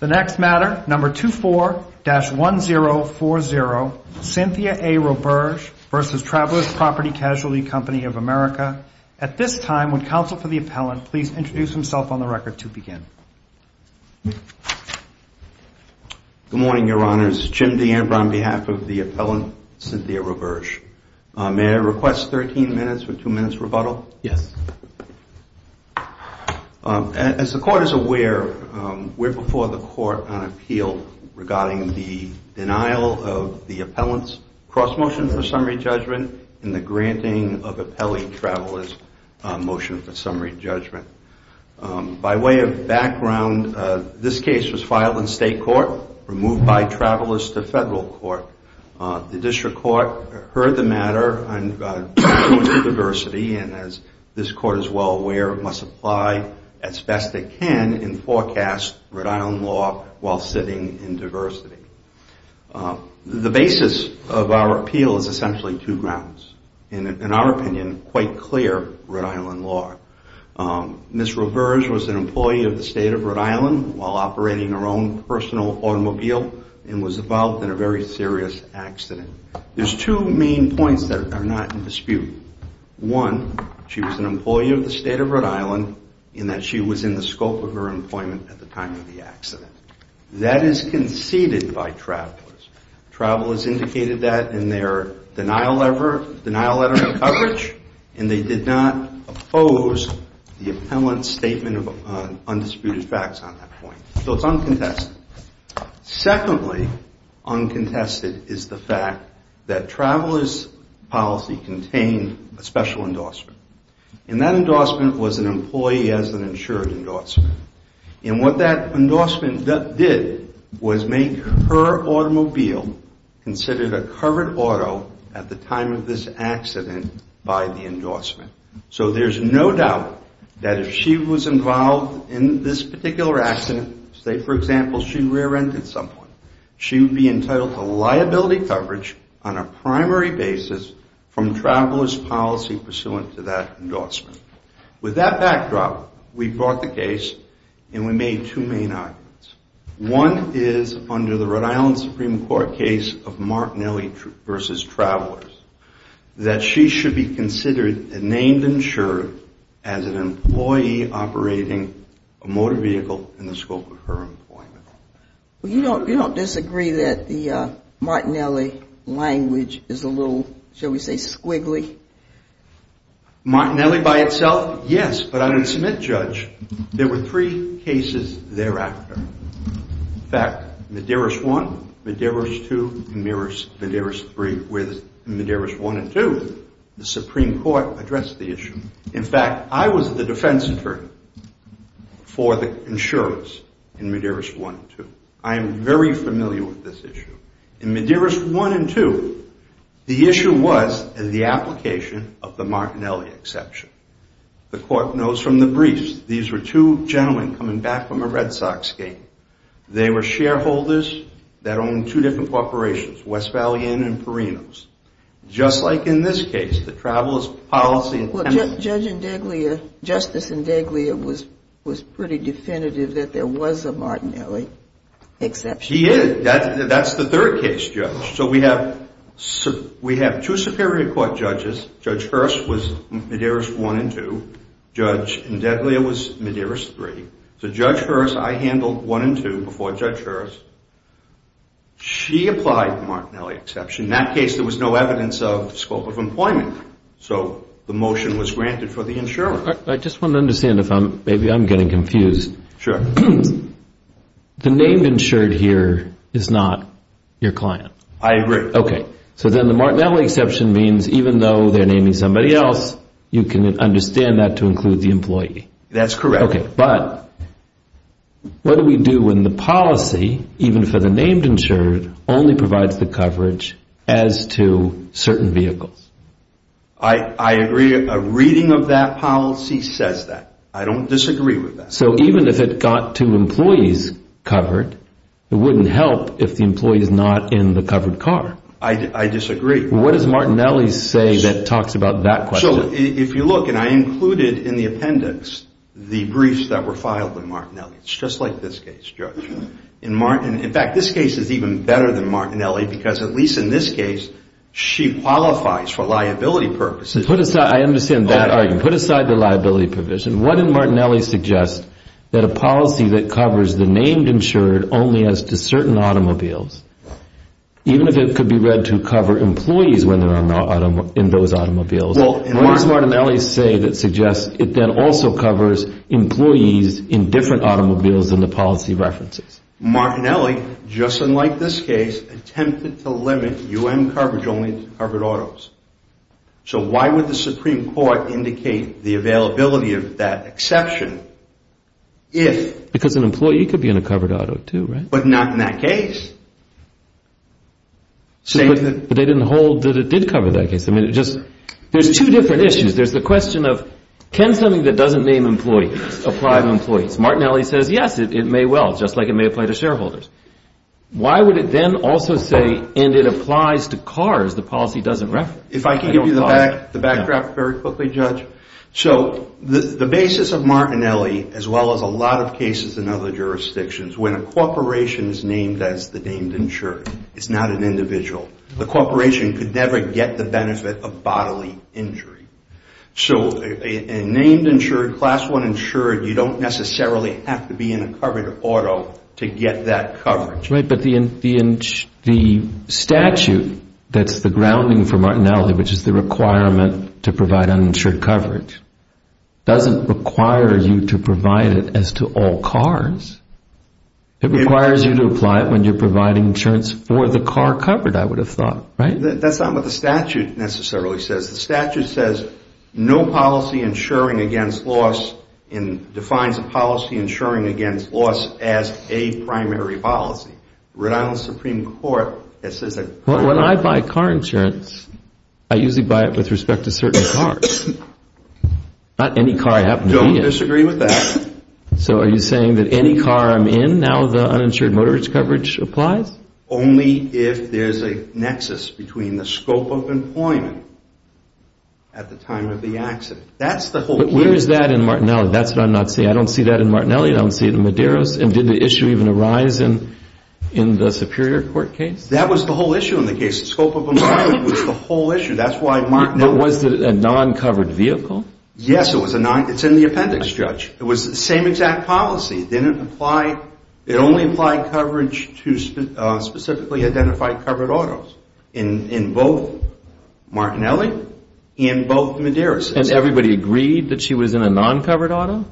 The next matter, number 24-1040, Cynthia A. Roberge v. Travelers Property Casualty Company of America. At this time, would counsel for the appellant please introduce himself on the record to begin. Good morning, your honors. Jim D'Ambro on behalf of the appellant, Cynthia Roberge. May I request 13 minutes or two minutes rebuttal? Yes. As the court is aware, we're before the court on appeal regarding the denial of the appellant's cross motion for summary judgment and the granting of appellee travelers motion for summary judgment. By way of background, this case was filed in state court, removed by travelers to federal court. The district court heard the matter on diversity and, as this court is well aware, must apply as best it can in forecast Rhode Island law while sitting in diversity. The basis of our appeal is essentially two grounds. In our opinion, quite clear Rhode Island law. Ms. Roberge was an employee of the state of Rhode Island while operating her own personal automobile and was involved in a very serious accident. There's two main points that are not in dispute. One, she was an employee of the state of Rhode Island in that she was in the scope of her employment at the time of the accident. That is conceded by travelers. Travelers indicated that in their denial letter of coverage and they did not oppose the appellant's statement of undisputed facts on that point. So it's uncontested. Secondly, uncontested is the fact that travelers' policy contained a special endorsement. And that endorsement was an employee as an insured endorsement. And what that endorsement did was make her automobile considered a covered auto at the time of this accident by the endorsement. So there's no doubt that if she was involved in this particular accident, say for example she rear-ended someone, she would be entitled to liability coverage on a primary basis from travelers' policy pursuant to that endorsement. With that backdrop, we brought the case and we made two main arguments. One is under the Rhode Island Supreme Court case of Martinelli v. Travelers, that she should be considered a named insured as an employee operating a motor vehicle in the scope of her employment. You don't disagree that the Martinelli language is a little, shall we say, squiggly? Martinelli by itself, yes. But on a Smith judge, there were three cases thereafter. In fact, Medeiros I, Medeiros II, and Medeiros III. With Medeiros I and II, the Supreme Court addressed the issue. In fact, I was the defense attorney for the insurers in Medeiros I and II. I am very familiar with this issue. In Medeiros I and II, the issue was the application of the Martinelli exception. The court knows from the briefs, these were two gentlemen coming back from a Red Sox game. They were shareholders that owned two different corporations, West Valley Inn and Perinos. Just like in this case, the travelers' policy intended... Well, Judge Indeglia, Justice Indeglia was pretty definitive that there was a Martinelli exception. He is. That's the third case, Judge. So we have two Superior Court judges. Judge Hearst was Medeiros I and II. Judge Indeglia was Medeiros III. So Judge Hearst, I handled I and II before Judge Hearst. She applied the Martinelli exception. In that case, there was no evidence of scope of employment. So the motion was granted for the insurer. I just want to understand, maybe I'm getting confused. Sure. The named insured here is not your client. I agree. Okay. So then the Martinelli exception means even though they're naming somebody else, you can understand that to include the employee. That's correct. Okay. But what do we do when the policy, even for the named insured, only provides the coverage as to certain vehicles? I agree. A reading of that policy says that. I don't disagree with that. So even if it got two employees covered, it wouldn't help if the employee is not in the covered car. I disagree. What does Martinelli say that talks about that question? So if you look, and I included in the appendix the briefs that were filed with Martinelli. It's just like this case, Judge. In fact, this case is even better than Martinelli because at least in this case, she qualifies for liability purposes. I understand that argument. Put aside the liability provision. What did Martinelli suggest? That a policy that covers the named insured only as to certain automobiles, even if it could be read to cover employees when they're in those automobiles. What does Martinelli say that suggests it then also covers employees in different automobiles than the policy references? Martinelli, just unlike this case, attempted to limit U.N. coverage only to covered autos. So why would the Supreme Court indicate the availability of that exception if... Because an employee could be in a covered auto too, right? But not in that case. But they didn't hold that it did cover that case. I mean, it just... There's two different issues. There's the question of can something that doesn't name employees apply to employees? Martinelli says, yes, it may well, just like it may apply to shareholders. Why would it then also say, and it applies to cars, the policy doesn't reference? If I could give you the backdrop very quickly, Judge. So the basis of Martinelli, as well as a lot of cases in other jurisdictions, when a corporation is named as the named insured, it's not an individual. The corporation could never get the benefit of bodily injury. So a named insured, Class I insured, you don't necessarily have to be in a covered auto to get that coverage. Right, but the statute that's the grounding for Martinelli, which is the requirement to provide uninsured coverage, doesn't require you to provide it as to all cars. It requires you to apply it when you're providing insurance for the car covered, I would have thought, right? That's not what the statute necessarily says. The statute says no policy insuring against loss and defines a policy insuring against loss as a primary policy. The Rhode Island Supreme Court says that. When I buy car insurance, I usually buy it with respect to certain cars, not any car I happen to be in. I don't disagree with that. So are you saying that any car I'm in, now the uninsured motor coverage applies? Only if there's a nexus between the scope of employment at the time of the accident. Where is that in Martinelli? That's what I'm not seeing. I don't see that in Martinelli. I don't see it in Medeiros. And did the issue even arise in the Superior Court case? That was the whole issue in the case. The scope of employment was the whole issue. That's why Martinelli. Was it a non-covered vehicle? Yes, it's in the appendix, Judge. It was the same exact policy. It only applied coverage to specifically identified covered autos in both Martinelli and both Medeiros. And everybody agreed that she was in a non-covered auto?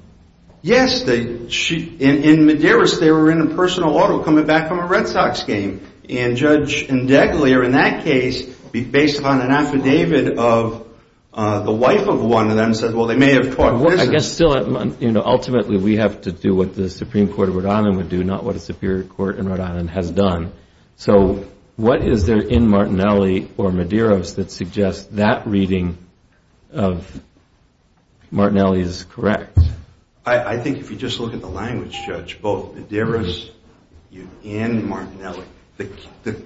Yes. In Medeiros, they were in a personal auto coming back from a Red Sox game. And Judge Indeglier, in that case, based on an affidavit of the wife of one of them, said, well, they may have talked business. I guess still, ultimately, we have to do what the Supreme Court of Rhode Island would do, not what a Superior Court in Rhode Island has done. So what is there in Martinelli or Medeiros that suggests that reading of Martinelli is correct? I think if you just look at the language, Judge, both Medeiros and Martinelli, the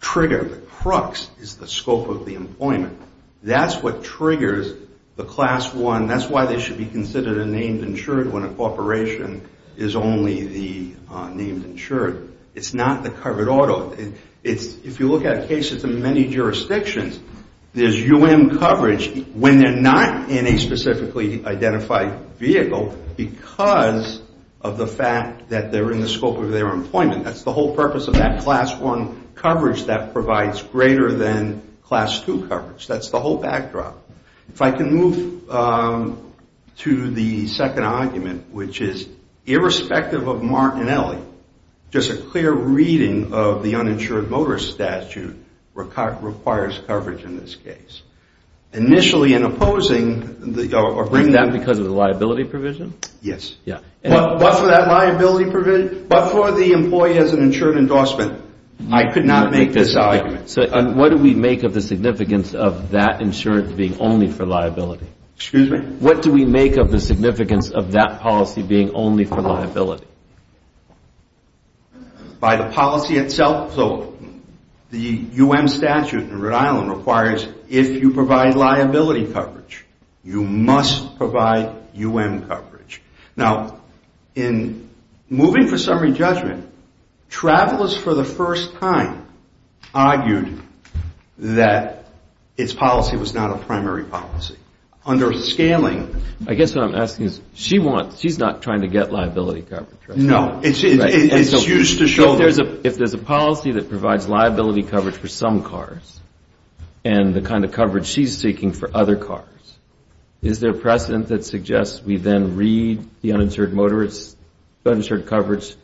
trigger, the crux is the scope of the employment. That's what triggers the class one. That's why they should be considered a named insured when a corporation is only the named insured. It's not the covered auto. If you look at cases in many jurisdictions, there's UM coverage when they're not in a specifically identified vehicle because of the fact that they're in the scope of their employment. That's the whole purpose of that class one coverage that provides greater than class two coverage. That's the whole backdrop. If I can move to the second argument, which is irrespective of Martinelli, just a clear reading of the uninsured motor statute requires coverage in this case. Initially, in opposing the government... Is that because of the liability provision? Yes. But for that liability provision, but for the employee as an insured endorsement, I could not make this argument. What do we make of the significance of that insurance being only for liability? Excuse me? What do we make of the significance of that policy being only for liability? By the policy itself, so the UM statute in Rhode Island requires if you provide liability coverage, you must provide UM coverage. Now, in moving for summary judgment, travelers for the first time argued that its policy was not a primary policy. Under scaling... I guess what I'm asking is she's not trying to get liability coverage, right? No. It's used to show... If there's a policy that provides liability coverage for some cars and the kind of coverage she's seeking for other cars, is there precedent that suggests we then read the uninsured coverage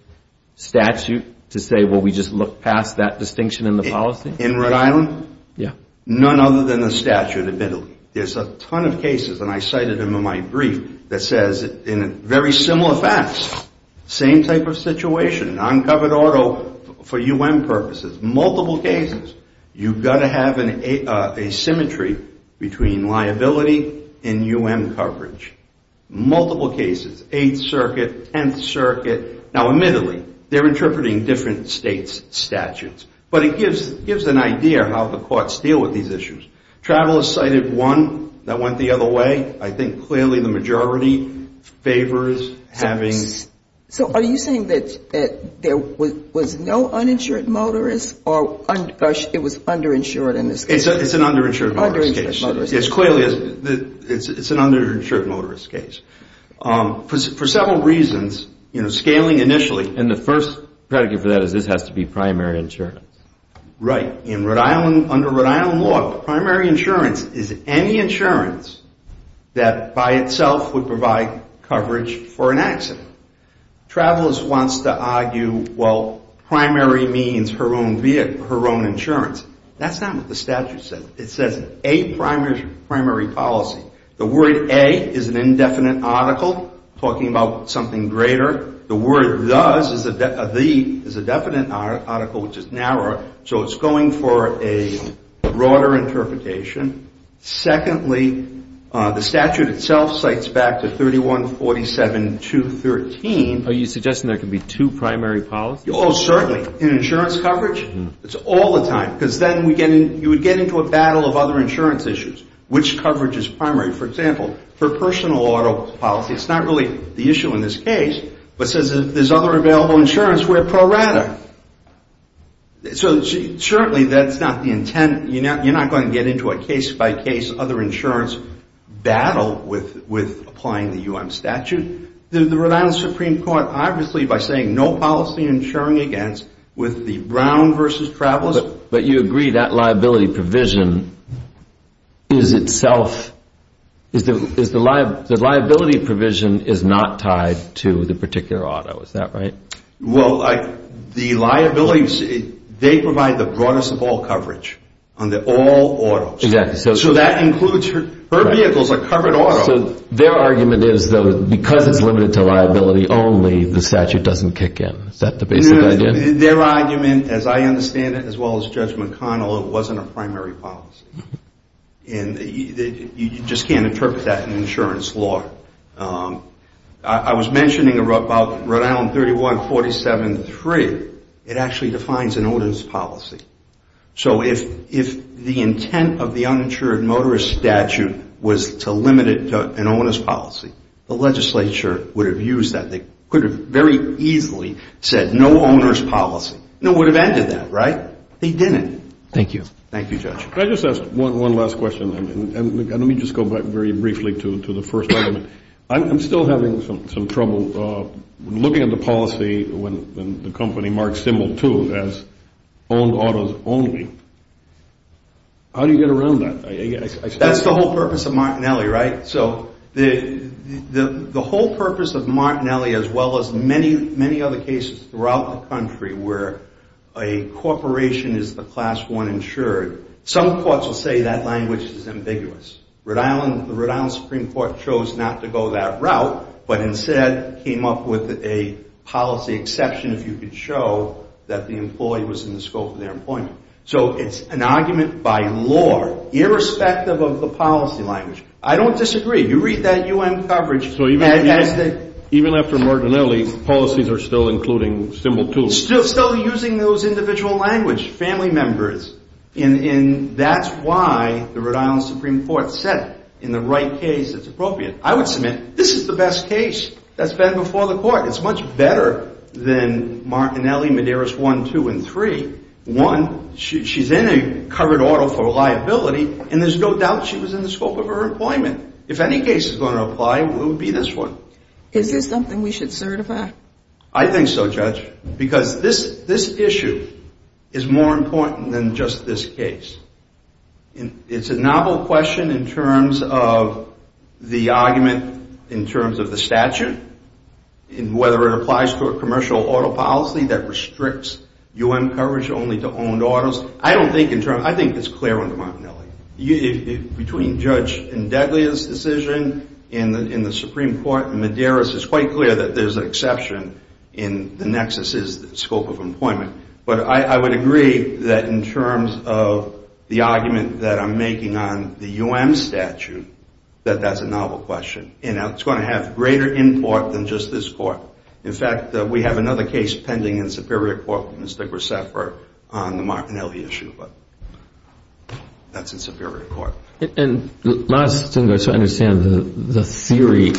statute to say, well, we just look past that distinction in the policy? In Rhode Island? Yeah. None other than the statute admittedly. There's a ton of cases, and I cited them in my brief, that says in very similar facts, same type of situation, uncovered auto for UM purposes, multiple cases. You've got to have an asymmetry between liability and UM coverage, multiple cases, 8th Circuit, 10th Circuit. Now, admittedly, they're interpreting different states' statutes, but it gives an idea how the courts deal with these issues. Travelers cited one that went the other way. I think clearly the majority favors having... So are you saying that there was no uninsured motorist or it was underinsured in this case? It's an underinsured motorist case. It's clearly an underinsured motorist case. For several reasons, scaling initially... And the first predicate for that is this has to be primary insurance. Right. In Rhode Island, under Rhode Island law, primary insurance is any insurance that by itself would provide coverage for an accident. Travelers wants to argue, well, primary means her own vehicle, her own insurance. That's not what the statute says. It says a primary policy. The word a is an indefinite article talking about something greater. The word does is a definite article which is narrower, so it's going for a broader interpretation. Secondly, the statute itself cites back to 3147.213. Are you suggesting there can be two primary policies? Oh, certainly. In insurance coverage, it's all the time because then you would get into a battle of other insurance issues, which coverage is primary. For example, for personal auto policy, it's not really the issue in this case, but says if there's other available insurance, we're pro rata. So certainly that's not the intent. You're not going to get into a case-by-case other insurance battle with applying the U.M. statute. The Rhode Island Supreme Court, obviously, by saying no policy insuring against with the Brown v. Travelers... The liability provision is not tied to the particular auto. Is that right? Well, the liabilities, they provide the broadest of all coverage on all autos. Exactly. So that includes her vehicles, a covered auto. Their argument is, though, because it's limited to liability only, the statute doesn't kick in. Is that the basic idea? Their argument, as I understand it, as well as Judge McConnell, it wasn't a primary policy. And you just can't interpret that in insurance law. I was mentioning about Rhode Island 31-47-3. It actually defines an owner's policy. So if the intent of the uninsured motorist statute was to limit it to an owner's policy, the legislature would have used that. They could have very easily said no owner's policy. It would have ended that, right? They didn't. Thank you. Thank you, Judge. Can I just ask one last question? And let me just go back very briefly to the first argument. I'm still having some trouble looking at the policy when the company marks symbol 2 as owned autos only. How do you get around that? That's the whole purpose of Martinelli, right? So the whole purpose of Martinelli, as well as many, many other cases throughout the country where a corporation is the class 1 insured, some courts will say that language is ambiguous. The Rhode Island Supreme Court chose not to go that route, but instead came up with a policy exception, if you could show that the employee was in the scope of their employment. So it's an argument by law, irrespective of the policy language. I don't disagree. You read that U.N. coverage. So even after Martinelli, policies are still including symbol 2? Still using those individual language, family members. And that's why the Rhode Island Supreme Court said in the right case it's appropriate. I would submit this is the best case that's been before the court. It's much better than Martinelli, Medeiros 1, 2, and 3. One, she's in a covered order for liability, and there's no doubt she was in the scope of her employment. If any case is going to apply, it would be this one. Is this something we should certify? I think so, Judge, because this issue is more important than just this case. It's a novel question in terms of the argument in terms of the statute, whether it applies to a commercial auto policy that restricts U.N. coverage only to owned autos. I think it's clear under Martinelli. Between Judge Indeglia's decision in the Supreme Court and Medeiros, it's quite clear that there's an exception in the nexus's scope of employment. But I would agree that in terms of the argument that I'm making on the U.N. statute, that that's a novel question. And it's going to have greater import than just this court. In fact, we have another case pending in Superior Court, Mr. Graceffa, on the Martinelli issue. But that's in Superior Court. And my understanding of the theory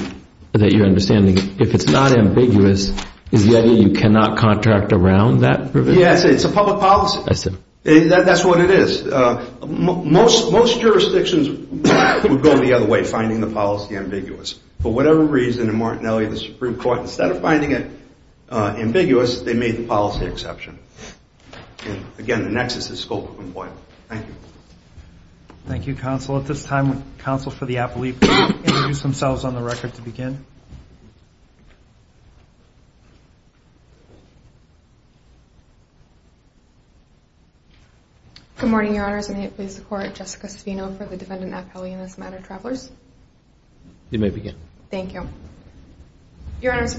that you're understanding, if it's not ambiguous, is the idea you cannot contract around that provision? Yes, it's a public policy. I see. That's what it is. Most jurisdictions would go the other way, finding the policy ambiguous. For whatever reason, in Martinelli, the Supreme Court, instead of finding it ambiguous, they made the policy exception. Again, the nexus's scope of employment. Thank you. Thank you, Counsel. At this time, Counsel for the Appellee will introduce themselves on the record to begin. Good morning, Your Honors. May it please the Court. Jessica Savino for the Defendant Appellee in this matter. Travelers. You may begin. Thank you. Your Honors,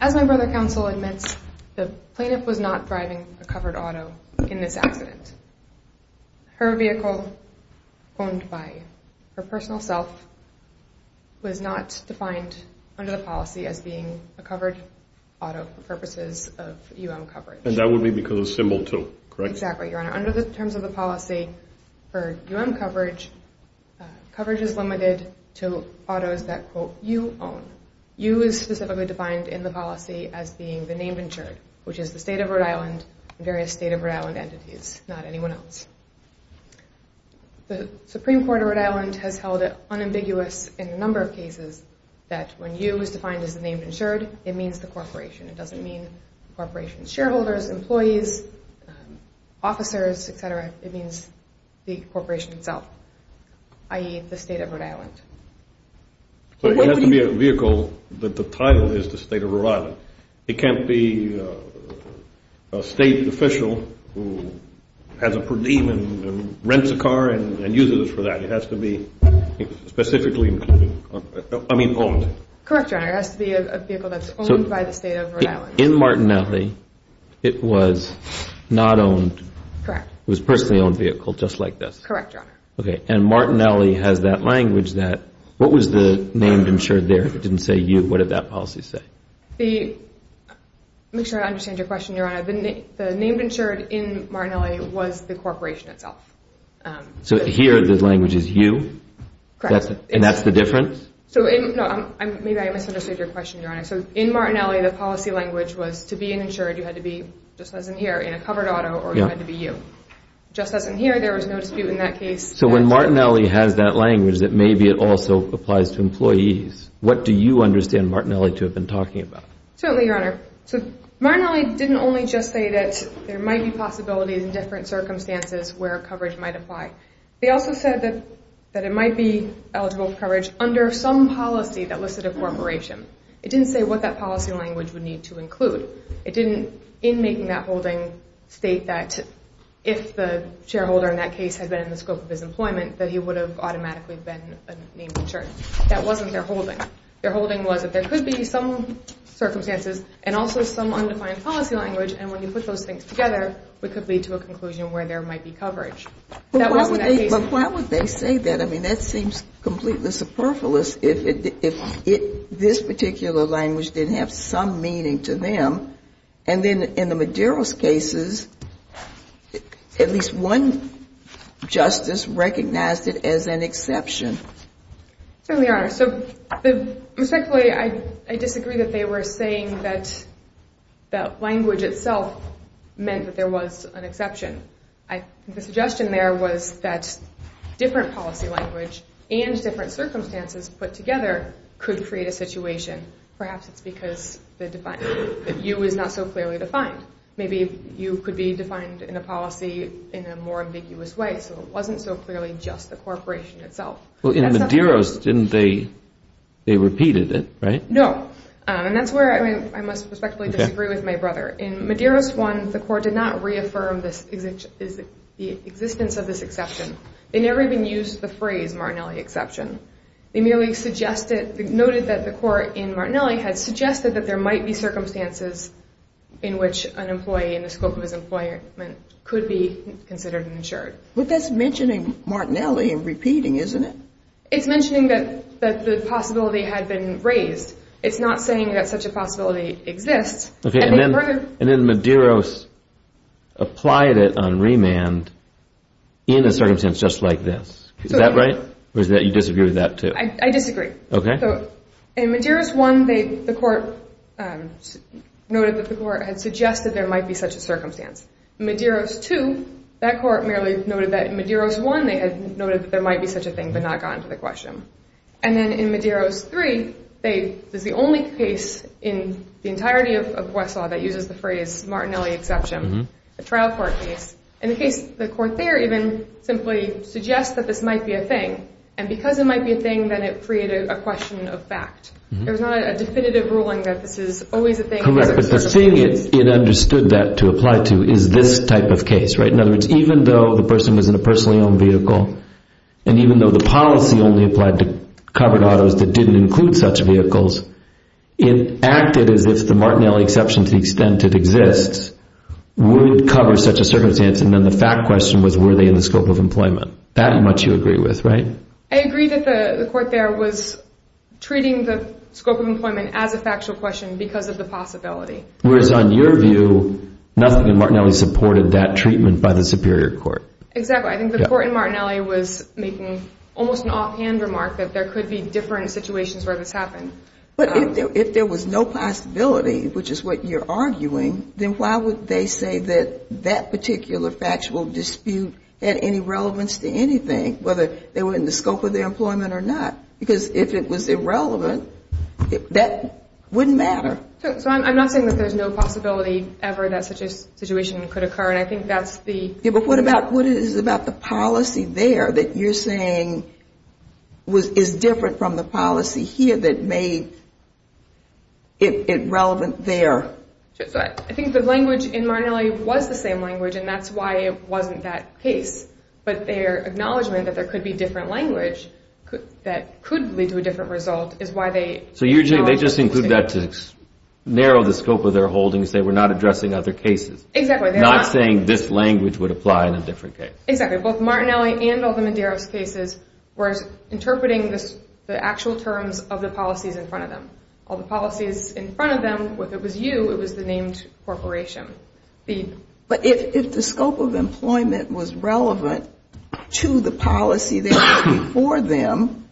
as my brother, Counsel, admits, the plaintiff was not driving a covered auto in this accident. as being a covered auto for purposes of U.M. coverage. And that would be because of symbol 2, correct? Exactly, Your Honor. Under the terms of the policy for U.M. coverage, coverage is limited to autos that, quote, you own. You is specifically defined in the policy as being the named insured, which is the State of Rhode Island and various State of Rhode Island entities, not anyone else. The Supreme Court of Rhode Island has held it unambiguous in a number of cases that when you is defined as the named insured, it means the corporation. It doesn't mean the corporation's shareholders, employees, officers, et cetera. It means the corporation itself, i.e., the State of Rhode Island. So it has to be a vehicle that the title is the State of Rhode Island. It can't be a State official who has a per diem and rents a car and uses it for that. It has to be specifically owned. Correct, Your Honor. It has to be a vehicle that's owned by the State of Rhode Island. In Martinelli, it was not owned. Correct. It was a personally owned vehicle just like this. Correct, Your Honor. Okay. And Martinelli has that language that what was the named insured there? If it didn't say you, what did that policy say? To make sure I understand your question, Your Honor, the named insured in Martinelli was the corporation itself. So here the language is you? Correct. And that's the difference? No, maybe I misunderstood your question, Your Honor. So in Martinelli, the policy language was to be an insured, you had to be, just as in here, in a covered auto or you had to be you. Just as in here, there was no dispute in that case. So when Martinelli has that language, that maybe it also applies to employees, what do you understand Martinelli to have been talking about? Certainly, Your Honor. So Martinelli didn't only just say that there might be possibilities in different circumstances where coverage might apply. They also said that it might be eligible for coverage under some policy that listed a corporation. It didn't say what that policy language would need to include. It didn't, in making that holding, state that if the shareholder in that case had been in the scope of his employment, that he would have automatically been a named insured. That wasn't their holding. Their holding was that there could be some circumstances and also some undefined policy language, and when you put those things together, it could lead to a conclusion where there might be coverage. But why would they say that? I mean, that seems completely superfluous if this particular language didn't have some meaning to them. And then in the Maduro's cases, at least one justice recognized it as an exception. Certainly, Your Honor. So respectfully, I disagree that they were saying that the language itself meant that there was an exception. The suggestion there was that different policy language and different circumstances put together could create a situation. Perhaps it's because the defined view is not so clearly defined. Maybe you could be defined in a policy in a more ambiguous way so it wasn't so clearly just the corporation itself. Well, in Maduro's, they repeated it, right? No. And that's where I must respectfully disagree with my brother. In Maduro's one, the court did not reaffirm the existence of this exception. They never even used the phrase Martinelli exception. They merely noted that the court in Martinelli had suggested that there might be circumstances in which an employee in the scope of his employment could be considered and insured. But that's mentioning Martinelli and repeating, isn't it? It's mentioning that the possibility had been raised. It's not saying that such a possibility exists. And then Maduro's applied it on remand in a circumstance just like this. Is that right? Or you disagree with that, too? I disagree. Okay. In Maduro's one, the court noted that the court had suggested there might be such a circumstance. In Maduro's two, that court merely noted that in Maduro's one, they had noted that there might be such a thing but not gotten to the question. And then in Maduro's three, there's the only case in the entirety of Westlaw that uses the phrase Martinelli exception, a trial court case. And the court there even simply suggests that this might be a thing. And because it might be a thing, then it created a question of fact. There's not a definitive ruling that this is always a thing. Correct. But the thing it understood that to apply to is this type of case. In other words, even though the person was in a personally owned vehicle and even though the policy only applied to covered autos that didn't include such vehicles, it acted as if the Martinelli exception to the extent it exists would cover such a circumstance. And then the fact question was, were they in the scope of employment? That much you agree with, right? I agree that the court there was treating the scope of employment as a factual question because of the possibility. Whereas on your view, nothing in Martinelli supported that treatment by the superior court. Exactly. I think the court in Martinelli was making almost an offhand remark that there could be different situations where this happened. But if there was no possibility, which is what you're arguing, then why would they say that that particular factual dispute had any relevance to anything, whether they were in the scope of their employment or not? Because if it was irrelevant, that wouldn't matter. So I'm not saying that there's no possibility ever that such a situation could occur, and I think that's the... Yeah, but what is it about the policy there that you're saying is different from the policy here that made it relevant there? I think the language in Martinelli was the same language, and that's why it wasn't that case. But their acknowledgment that there could be different language that could lead to a different result is why they... So they just include that to narrow the scope of their holdings. They were not addressing other cases. Exactly. Not saying this language would apply in a different case. Exactly. Both Martinelli and all the Medeiros cases were interpreting the actual terms of the policies in front of them. All the policies in front of them, whether it was you, it was the named corporation. But if the scope of employment was relevant to the policy that was before them,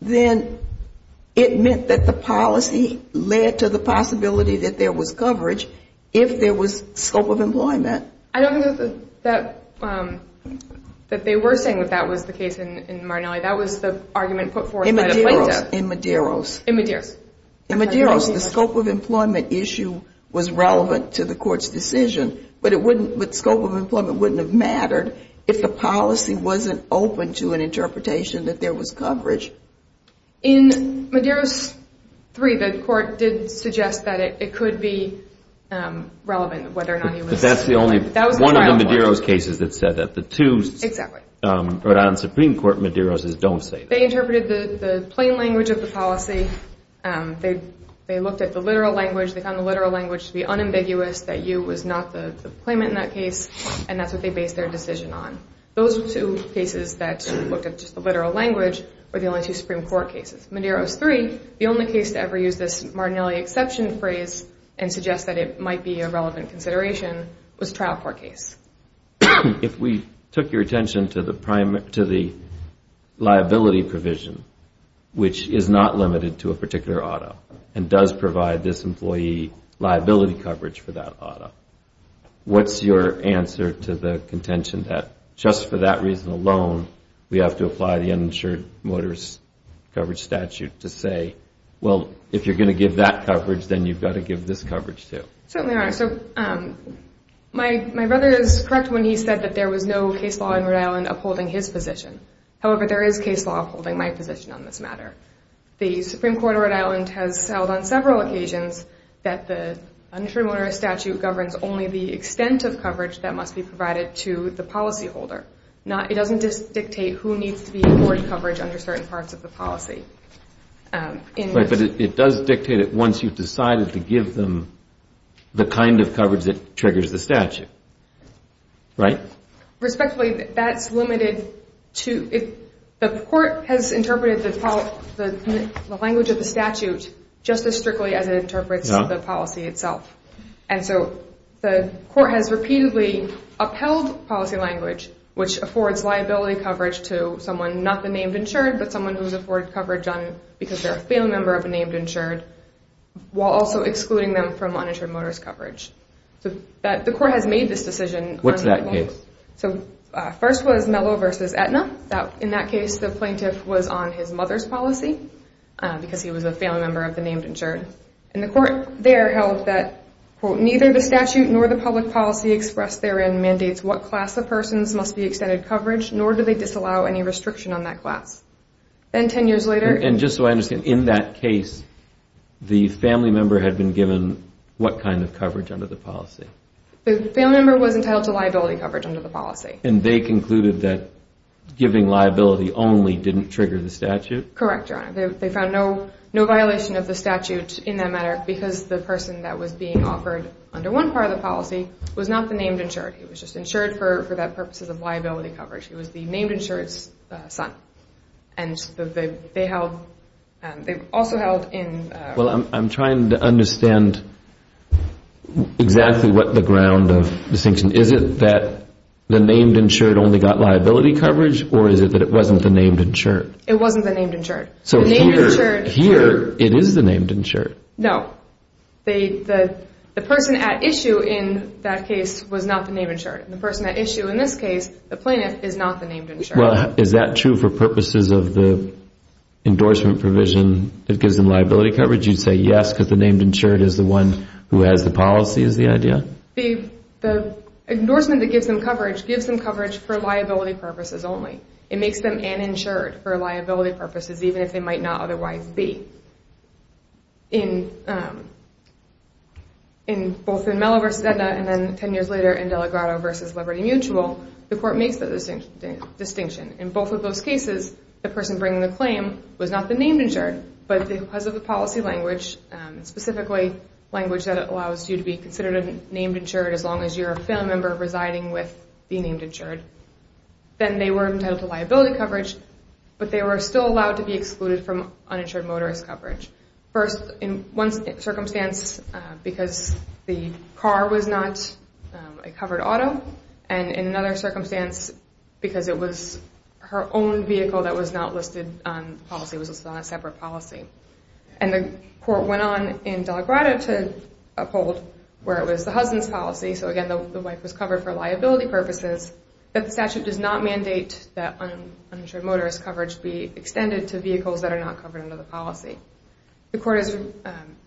then it meant that the policy led to the possibility that there was coverage if there was scope of employment. I don't think that they were saying that that was the case in Martinelli. That was the argument put forth by the plaintiff. In Medeiros. In Medeiros. In Medeiros. In Medeiros, the scope of employment issue was relevant to the court's decision, but scope of employment wouldn't have mattered if the policy wasn't open to an interpretation that there was coverage. In Medeiros 3, the court did suggest that it could be relevant, whether or not he was... But that's the only... That was the final point. One of the Medeiros cases that said that. The two Rhode Island Supreme Court Medeiroses don't say that. They interpreted the plain language of the policy. They looked at the literal language. They found the literal language to be unambiguous, that you was not the claimant in that case, and that's what they based their decision on. Those two cases that looked at just the literal language were the only two Supreme Court cases. Medeiros 3, the only case to ever use this Martinelli exception phrase and suggest that it might be a relevant consideration was a trial court case. If we took your attention to the liability provision, which is not limited to a particular auto and does provide this employee liability coverage for that auto, what's your answer to the contention that just for that reason alone, we have to apply the uninsured motorist coverage statute to say, well, if you're going to give that coverage, then you've got to give this coverage too? Certainly, Your Honor. So my brother is correct when he said that there was no case law in Rhode Island upholding his position. However, there is case law upholding my position on this matter. The Supreme Court of Rhode Island has held on several occasions that the uninsured motorist statute governs only the extent of coverage that must be provided to the policyholder. It doesn't just dictate who needs to be afforded coverage under certain parts of the policy. But it does dictate it once you've decided to give them the kind of coverage that triggers the statute, right? Respectfully, that's limited to if the court has interpreted the language of the statute just as strictly as it interprets the policy itself. And so the court has repeatedly upheld policy language, which affords liability coverage to someone, not the named insured, but someone who is afforded coverage because they're a family member of a named insured, while also excluding them from uninsured motorist coverage. The court has made this decision. What's that case? First was Mello v. Aetna. In that case, the plaintiff was on his mother's policy because he was a family member of the named insured. And the court there held that, quote, neither the statute nor the public policy expressed therein mandates what class of persons must be extended coverage, nor do they disallow any restriction on that class. And 10 years later... And just so I understand, in that case, the family member had been given what kind of coverage under the policy? The family member was entitled to liability coverage under the policy. And they concluded that giving liability only didn't trigger the statute? Correct, Your Honor. They found no violation of the statute in that matter because the person that was being offered under one part of the policy was not the named insured. He was just insured for that purposes of liability coverage. He was the named insured's son. And they held, they also held in... Well, I'm trying to understand exactly what the ground of distinction. Is it that the named insured only got liability coverage, or is it that it wasn't the named insured? It wasn't the named insured. So here it is the named insured. No. The person at issue in that case was not the named insured. The person at issue in this case, the plaintiff, is not the named insured. Well, is that true for purposes of the endorsement provision that gives them liability coverage? You'd say yes because the named insured is the one who has the policy, is the idea? The endorsement that gives them coverage gives them coverage for liability purposes only. It makes them uninsured for liability purposes, even if they might not otherwise be. In both in Mello v. Edna and then ten years later in Delegato v. Liberty Mutual, the court makes the distinction. In both of those cases, the person bringing the claim was not the named insured, but because of the policy language, specifically language that allows you to be considered a named insured as long as you're a family member residing with the named insured, then they were entitled to liability coverage, but they were still allowed to be excluded from uninsured motorist coverage. First, in one circumstance, because the car was not a covered auto, and in another circumstance, because it was her own vehicle that was not listed on the policy, it was listed on a separate policy. And the court went on in Delegato to uphold where it was the husband's policy, so again, the wife was covered for liability purposes, but the statute does not mandate that uninsured motorist coverage be extended to vehicles that are not covered under the policy. The court has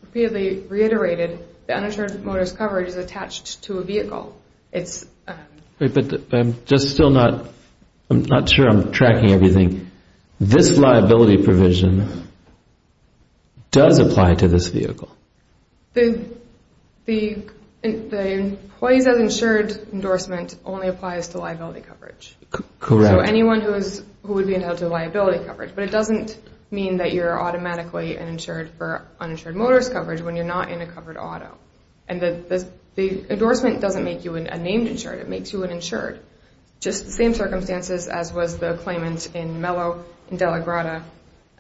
repeatedly reiterated that uninsured motorist coverage is attached to a vehicle. But I'm just still not sure I'm tracking everything. This liability provision does apply to this vehicle. The employees as insured endorsement only applies to liability coverage. Correct. So anyone who would be entitled to liability coverage, but it doesn't mean that you're automatically insured for uninsured motorist coverage when you're not in a covered auto. And the endorsement doesn't make you a named insured, it makes you an insured. Just the same circumstances as was the claimant in Mello in Delegato,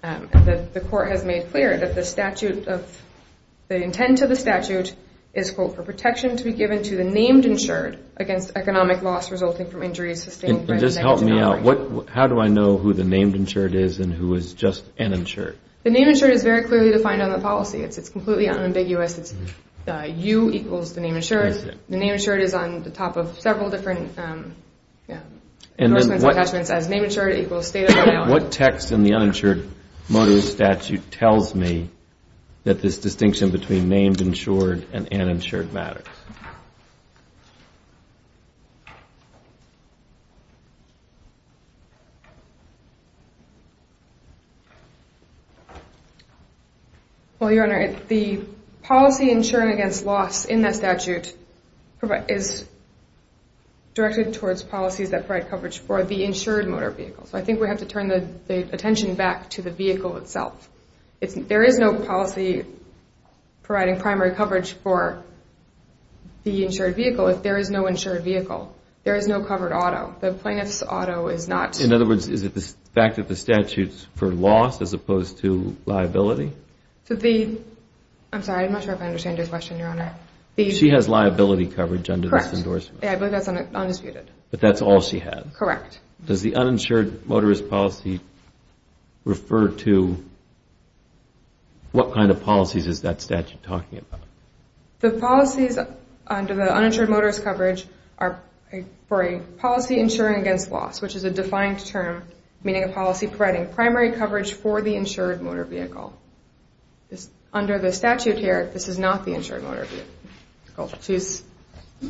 the court has made clear that the statute of the intent of the statute is, quote, for protection to be given to the named insured against economic loss resulting from injuries sustained by the Just help me out. How do I know who the named insured is and who is just an insured? The named insured is very clearly defined on the policy. It's completely unambiguous. It's U equals the named insured. The named insured is on the top of several different endorsements and attachments as named insured equals state of the art. What text in the uninsured motorist statute tells me that this distinction between named insured and uninsured matters? Well, Your Honor, the policy insured against loss in that statute is directed towards policies that provide coverage for the insured motor vehicle. So I think we have to turn the attention back to the vehicle itself. There is no policy providing primary coverage for the insured vehicle if there is no insured vehicle. There is no covered auto. The plaintiff's auto is not. In other words, is it the fact that the statute is for loss as opposed to liability? I'm sorry. I'm not sure I understand your question, Your Honor. She has liability coverage under this endorsement. Correct. I believe that's undisputed. But that's all she had. Correct. Does the uninsured motorist policy refer to what kind of policies is that statute talking about? The policies under the uninsured motorist coverage are for a policy insuring against loss, which is a defined term meaning a policy providing primary coverage for the insured motor vehicle. Under the statute here, this is not the insured motor vehicle.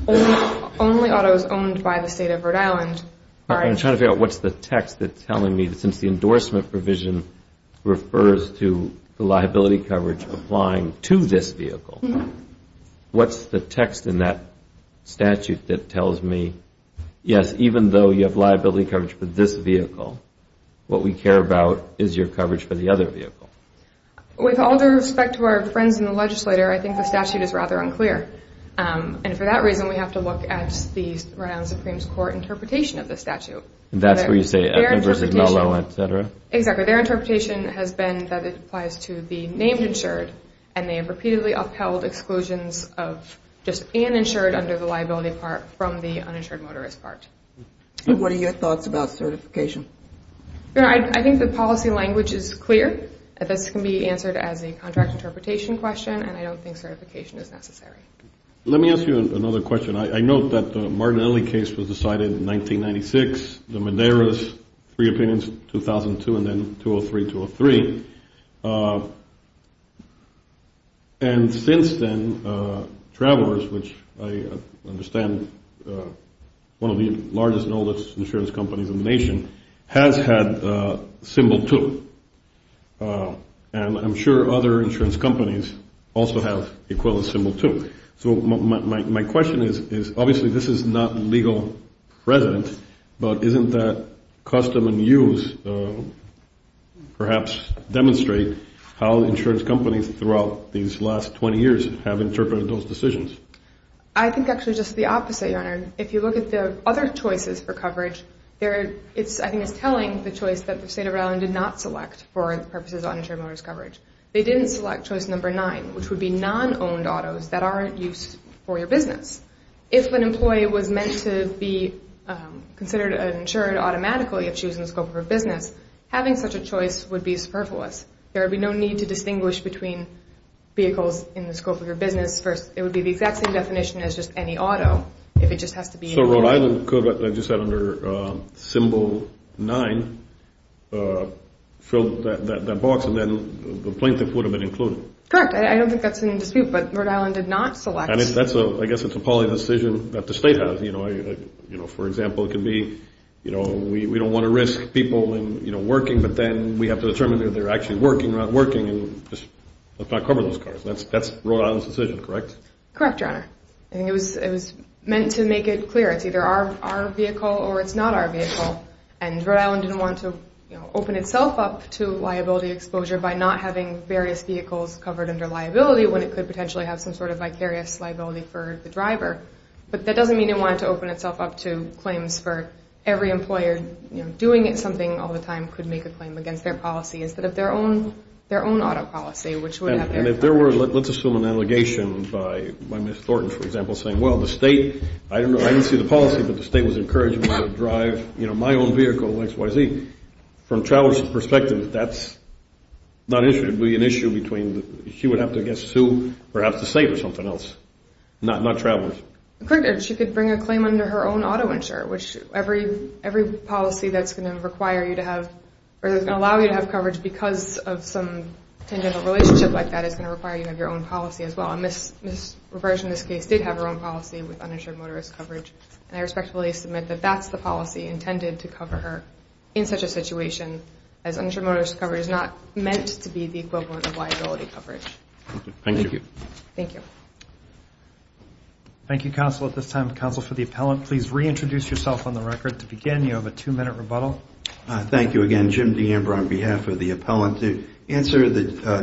Only autos owned by the State of Rhode Island are insured. I'm trying to figure out what's the text that's telling me, since the endorsement provision refers to the liability coverage applying to this vehicle, what's the text in that statute that tells me, yes, even though you have liability coverage for this vehicle, what we care about is your coverage for the other vehicle? With all due respect to our friends in the legislature, I think the statute is rather unclear. And for that reason, we have to look at the Rhode Island Supreme Court interpretation of the statute. That's where you say Edmund v. Malone, et cetera? Exactly. Their interpretation has been that it applies to the named insured, and they have repeatedly upheld exclusions of just an insured under the liability part from the uninsured motorist part. What are your thoughts about certification? I think the policy language is clear. This can be answered as a contract interpretation question, and I don't think certification is necessary. Let me ask you another question. I note that the Martinelli case was decided in 1996, the Madera's three opinions, 2002, and then 2003-2003. And since then, Travelers, which I understand is one of the largest and oldest insurance companies in the nation, has had Symbol 2. And I'm sure other insurance companies also have Equalist Symbol 2. So my question is, obviously this is not legal present, but isn't that custom and use perhaps demonstrate how insurance companies throughout these last 20 years have interpreted those decisions? I think actually just the opposite, Your Honor. If you look at the other choices for coverage, I think it's telling the choice that the state of Rhode Island did not select for the purposes of uninsured motorist coverage. They didn't select choice number nine, which would be non-owned autos that aren't used for your business. If an employee was meant to be considered uninsured automatically if she was in the scope of her business, having such a choice would be superfluous. There would be no need to distinguish between vehicles in the scope of your business. It would be the exact same definition as just any auto if it just has to be uninsured. So Rhode Island could, I just said under Symbol 9, fill that box and then the plaintiff would have been included. Correct. I don't think that's in dispute, but Rhode Island did not select. I guess it's a policy decision that the state has. For example, it could be we don't want to risk people working, but then we have to determine if they're actually working or not working. Let's not cover those cars. That's Rhode Island's decision, correct? Correct, Your Honor. I think it was meant to make it clear it's either our vehicle or it's not our vehicle, and Rhode Island didn't want to open itself up to liability exposure by not having various vehicles covered under liability when it could potentially have some sort of vicarious liability for the driver. But that doesn't mean it wanted to open itself up to claims for every employer. Doing something all the time could make a claim against their policy instead of their own auto policy, which would have their claim. And if there were, let's assume an allegation by Ms. Thornton, for example, saying, well, the state, I didn't see the policy, but the state was encouraging me to drive my own vehicle XYZ. From Travers' perspective, that's not an issue. It would be an issue between she would have to sue perhaps the state or something else, not Travers. Correct. She could bring a claim under her own auto insurer, which every policy that's going to require you to have or that's going to allow you to have coverage because of some tangential relationship like that is going to require you to have your own policy as well. And Ms. Travers, in this case, did have her own policy with uninsured motorist coverage, and I respectfully submit that that's the policy intended to cover her in such a situation as uninsured motorist coverage is not meant to be the equivalent of liability coverage. Thank you. Thank you, counsel. At this time, counsel for the appellant, please reintroduce yourself on the record to begin. You have a two-minute rebuttal. Thank you again. Jim DeAmber on behalf of the appellant. To answer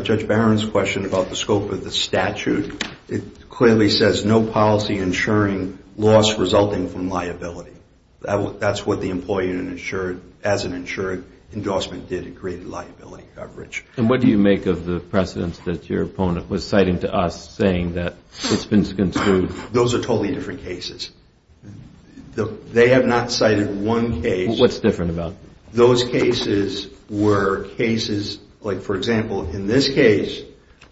Judge Barron's question about the scope of the statute, it clearly says no policy insuring loss resulting from liability. That's what the employee as an insured endorsement did, it created liability coverage. And what do you make of the precedents that your opponent was citing to us saying that it's been construed? Those are totally different cases. They have not cited one case. What's different about them? Those cases were cases like, for example, in this case,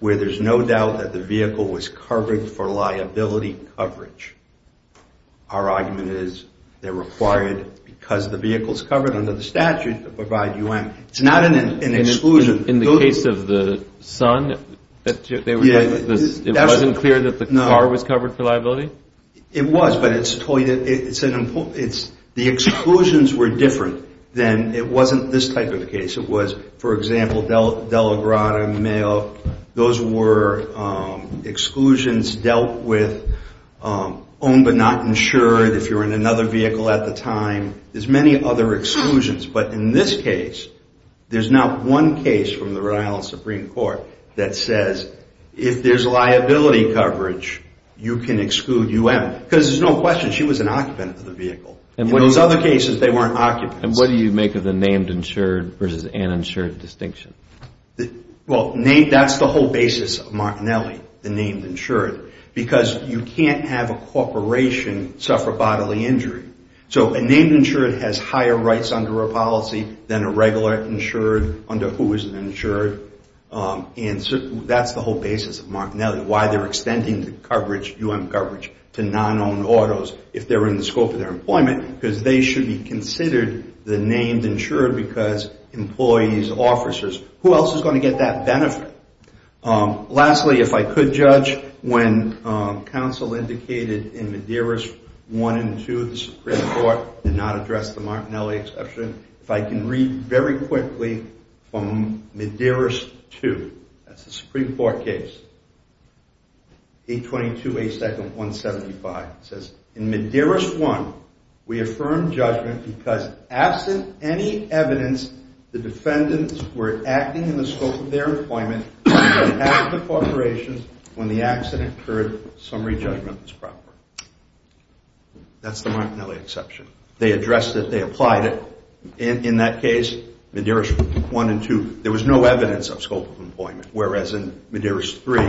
where there's no doubt that the vehicle was covered for liability coverage. Our argument is they're required because the vehicle's covered under the statute to provide UM. It's not an exclusion. In the case of the son, it wasn't clear that the car was covered for liability? It was, but the exclusions were different than it wasn't this type of a case. It was, for example, De La Grada and Mayo. Those were exclusions dealt with, owned but not insured, if you were in another vehicle at the time. There's many other exclusions. But in this case, there's not one case from the Rhode Island Supreme Court that says if there's liability coverage, you can exclude UM because there's no question she was an occupant of the vehicle. In those other cases, they weren't occupants. And what do you make of the named insured versus uninsured distinction? Well, that's the whole basis of Martinelli, the named insured, because you can't have a corporation suffer bodily injury. So a named insured has higher rights under a policy than a regular insured under who isn't insured. And that's the whole basis of Martinelli, why they're extending the coverage, UM coverage to non-owned autos if they're in the scope of their employment, because they should be considered the named insured because employees, officers, who else is going to get that benefit? Lastly, if I could judge, when counsel indicated in Medeiros 1 and 2, the Supreme Court did not address the Martinelli exception, if I can read very quickly from Medeiros 2, that's the Supreme Court case, 822A2-175. It says, in Medeiros 1, we affirm judgment because absent any evidence, the defendants were acting in the scope of their employment, and the corporations, when the accident occurred, summary judgment was proper. That's the Martinelli exception. They addressed it, they applied it. In that case, Medeiros 1 and 2, there was no evidence of scope of employment, whereas in Medeiros 3,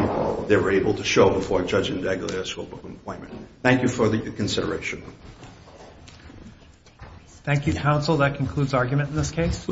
they were able to show before a judge and dagger their scope of employment. Thank you for the consideration. Thank you, counsel. That concludes argument in this case.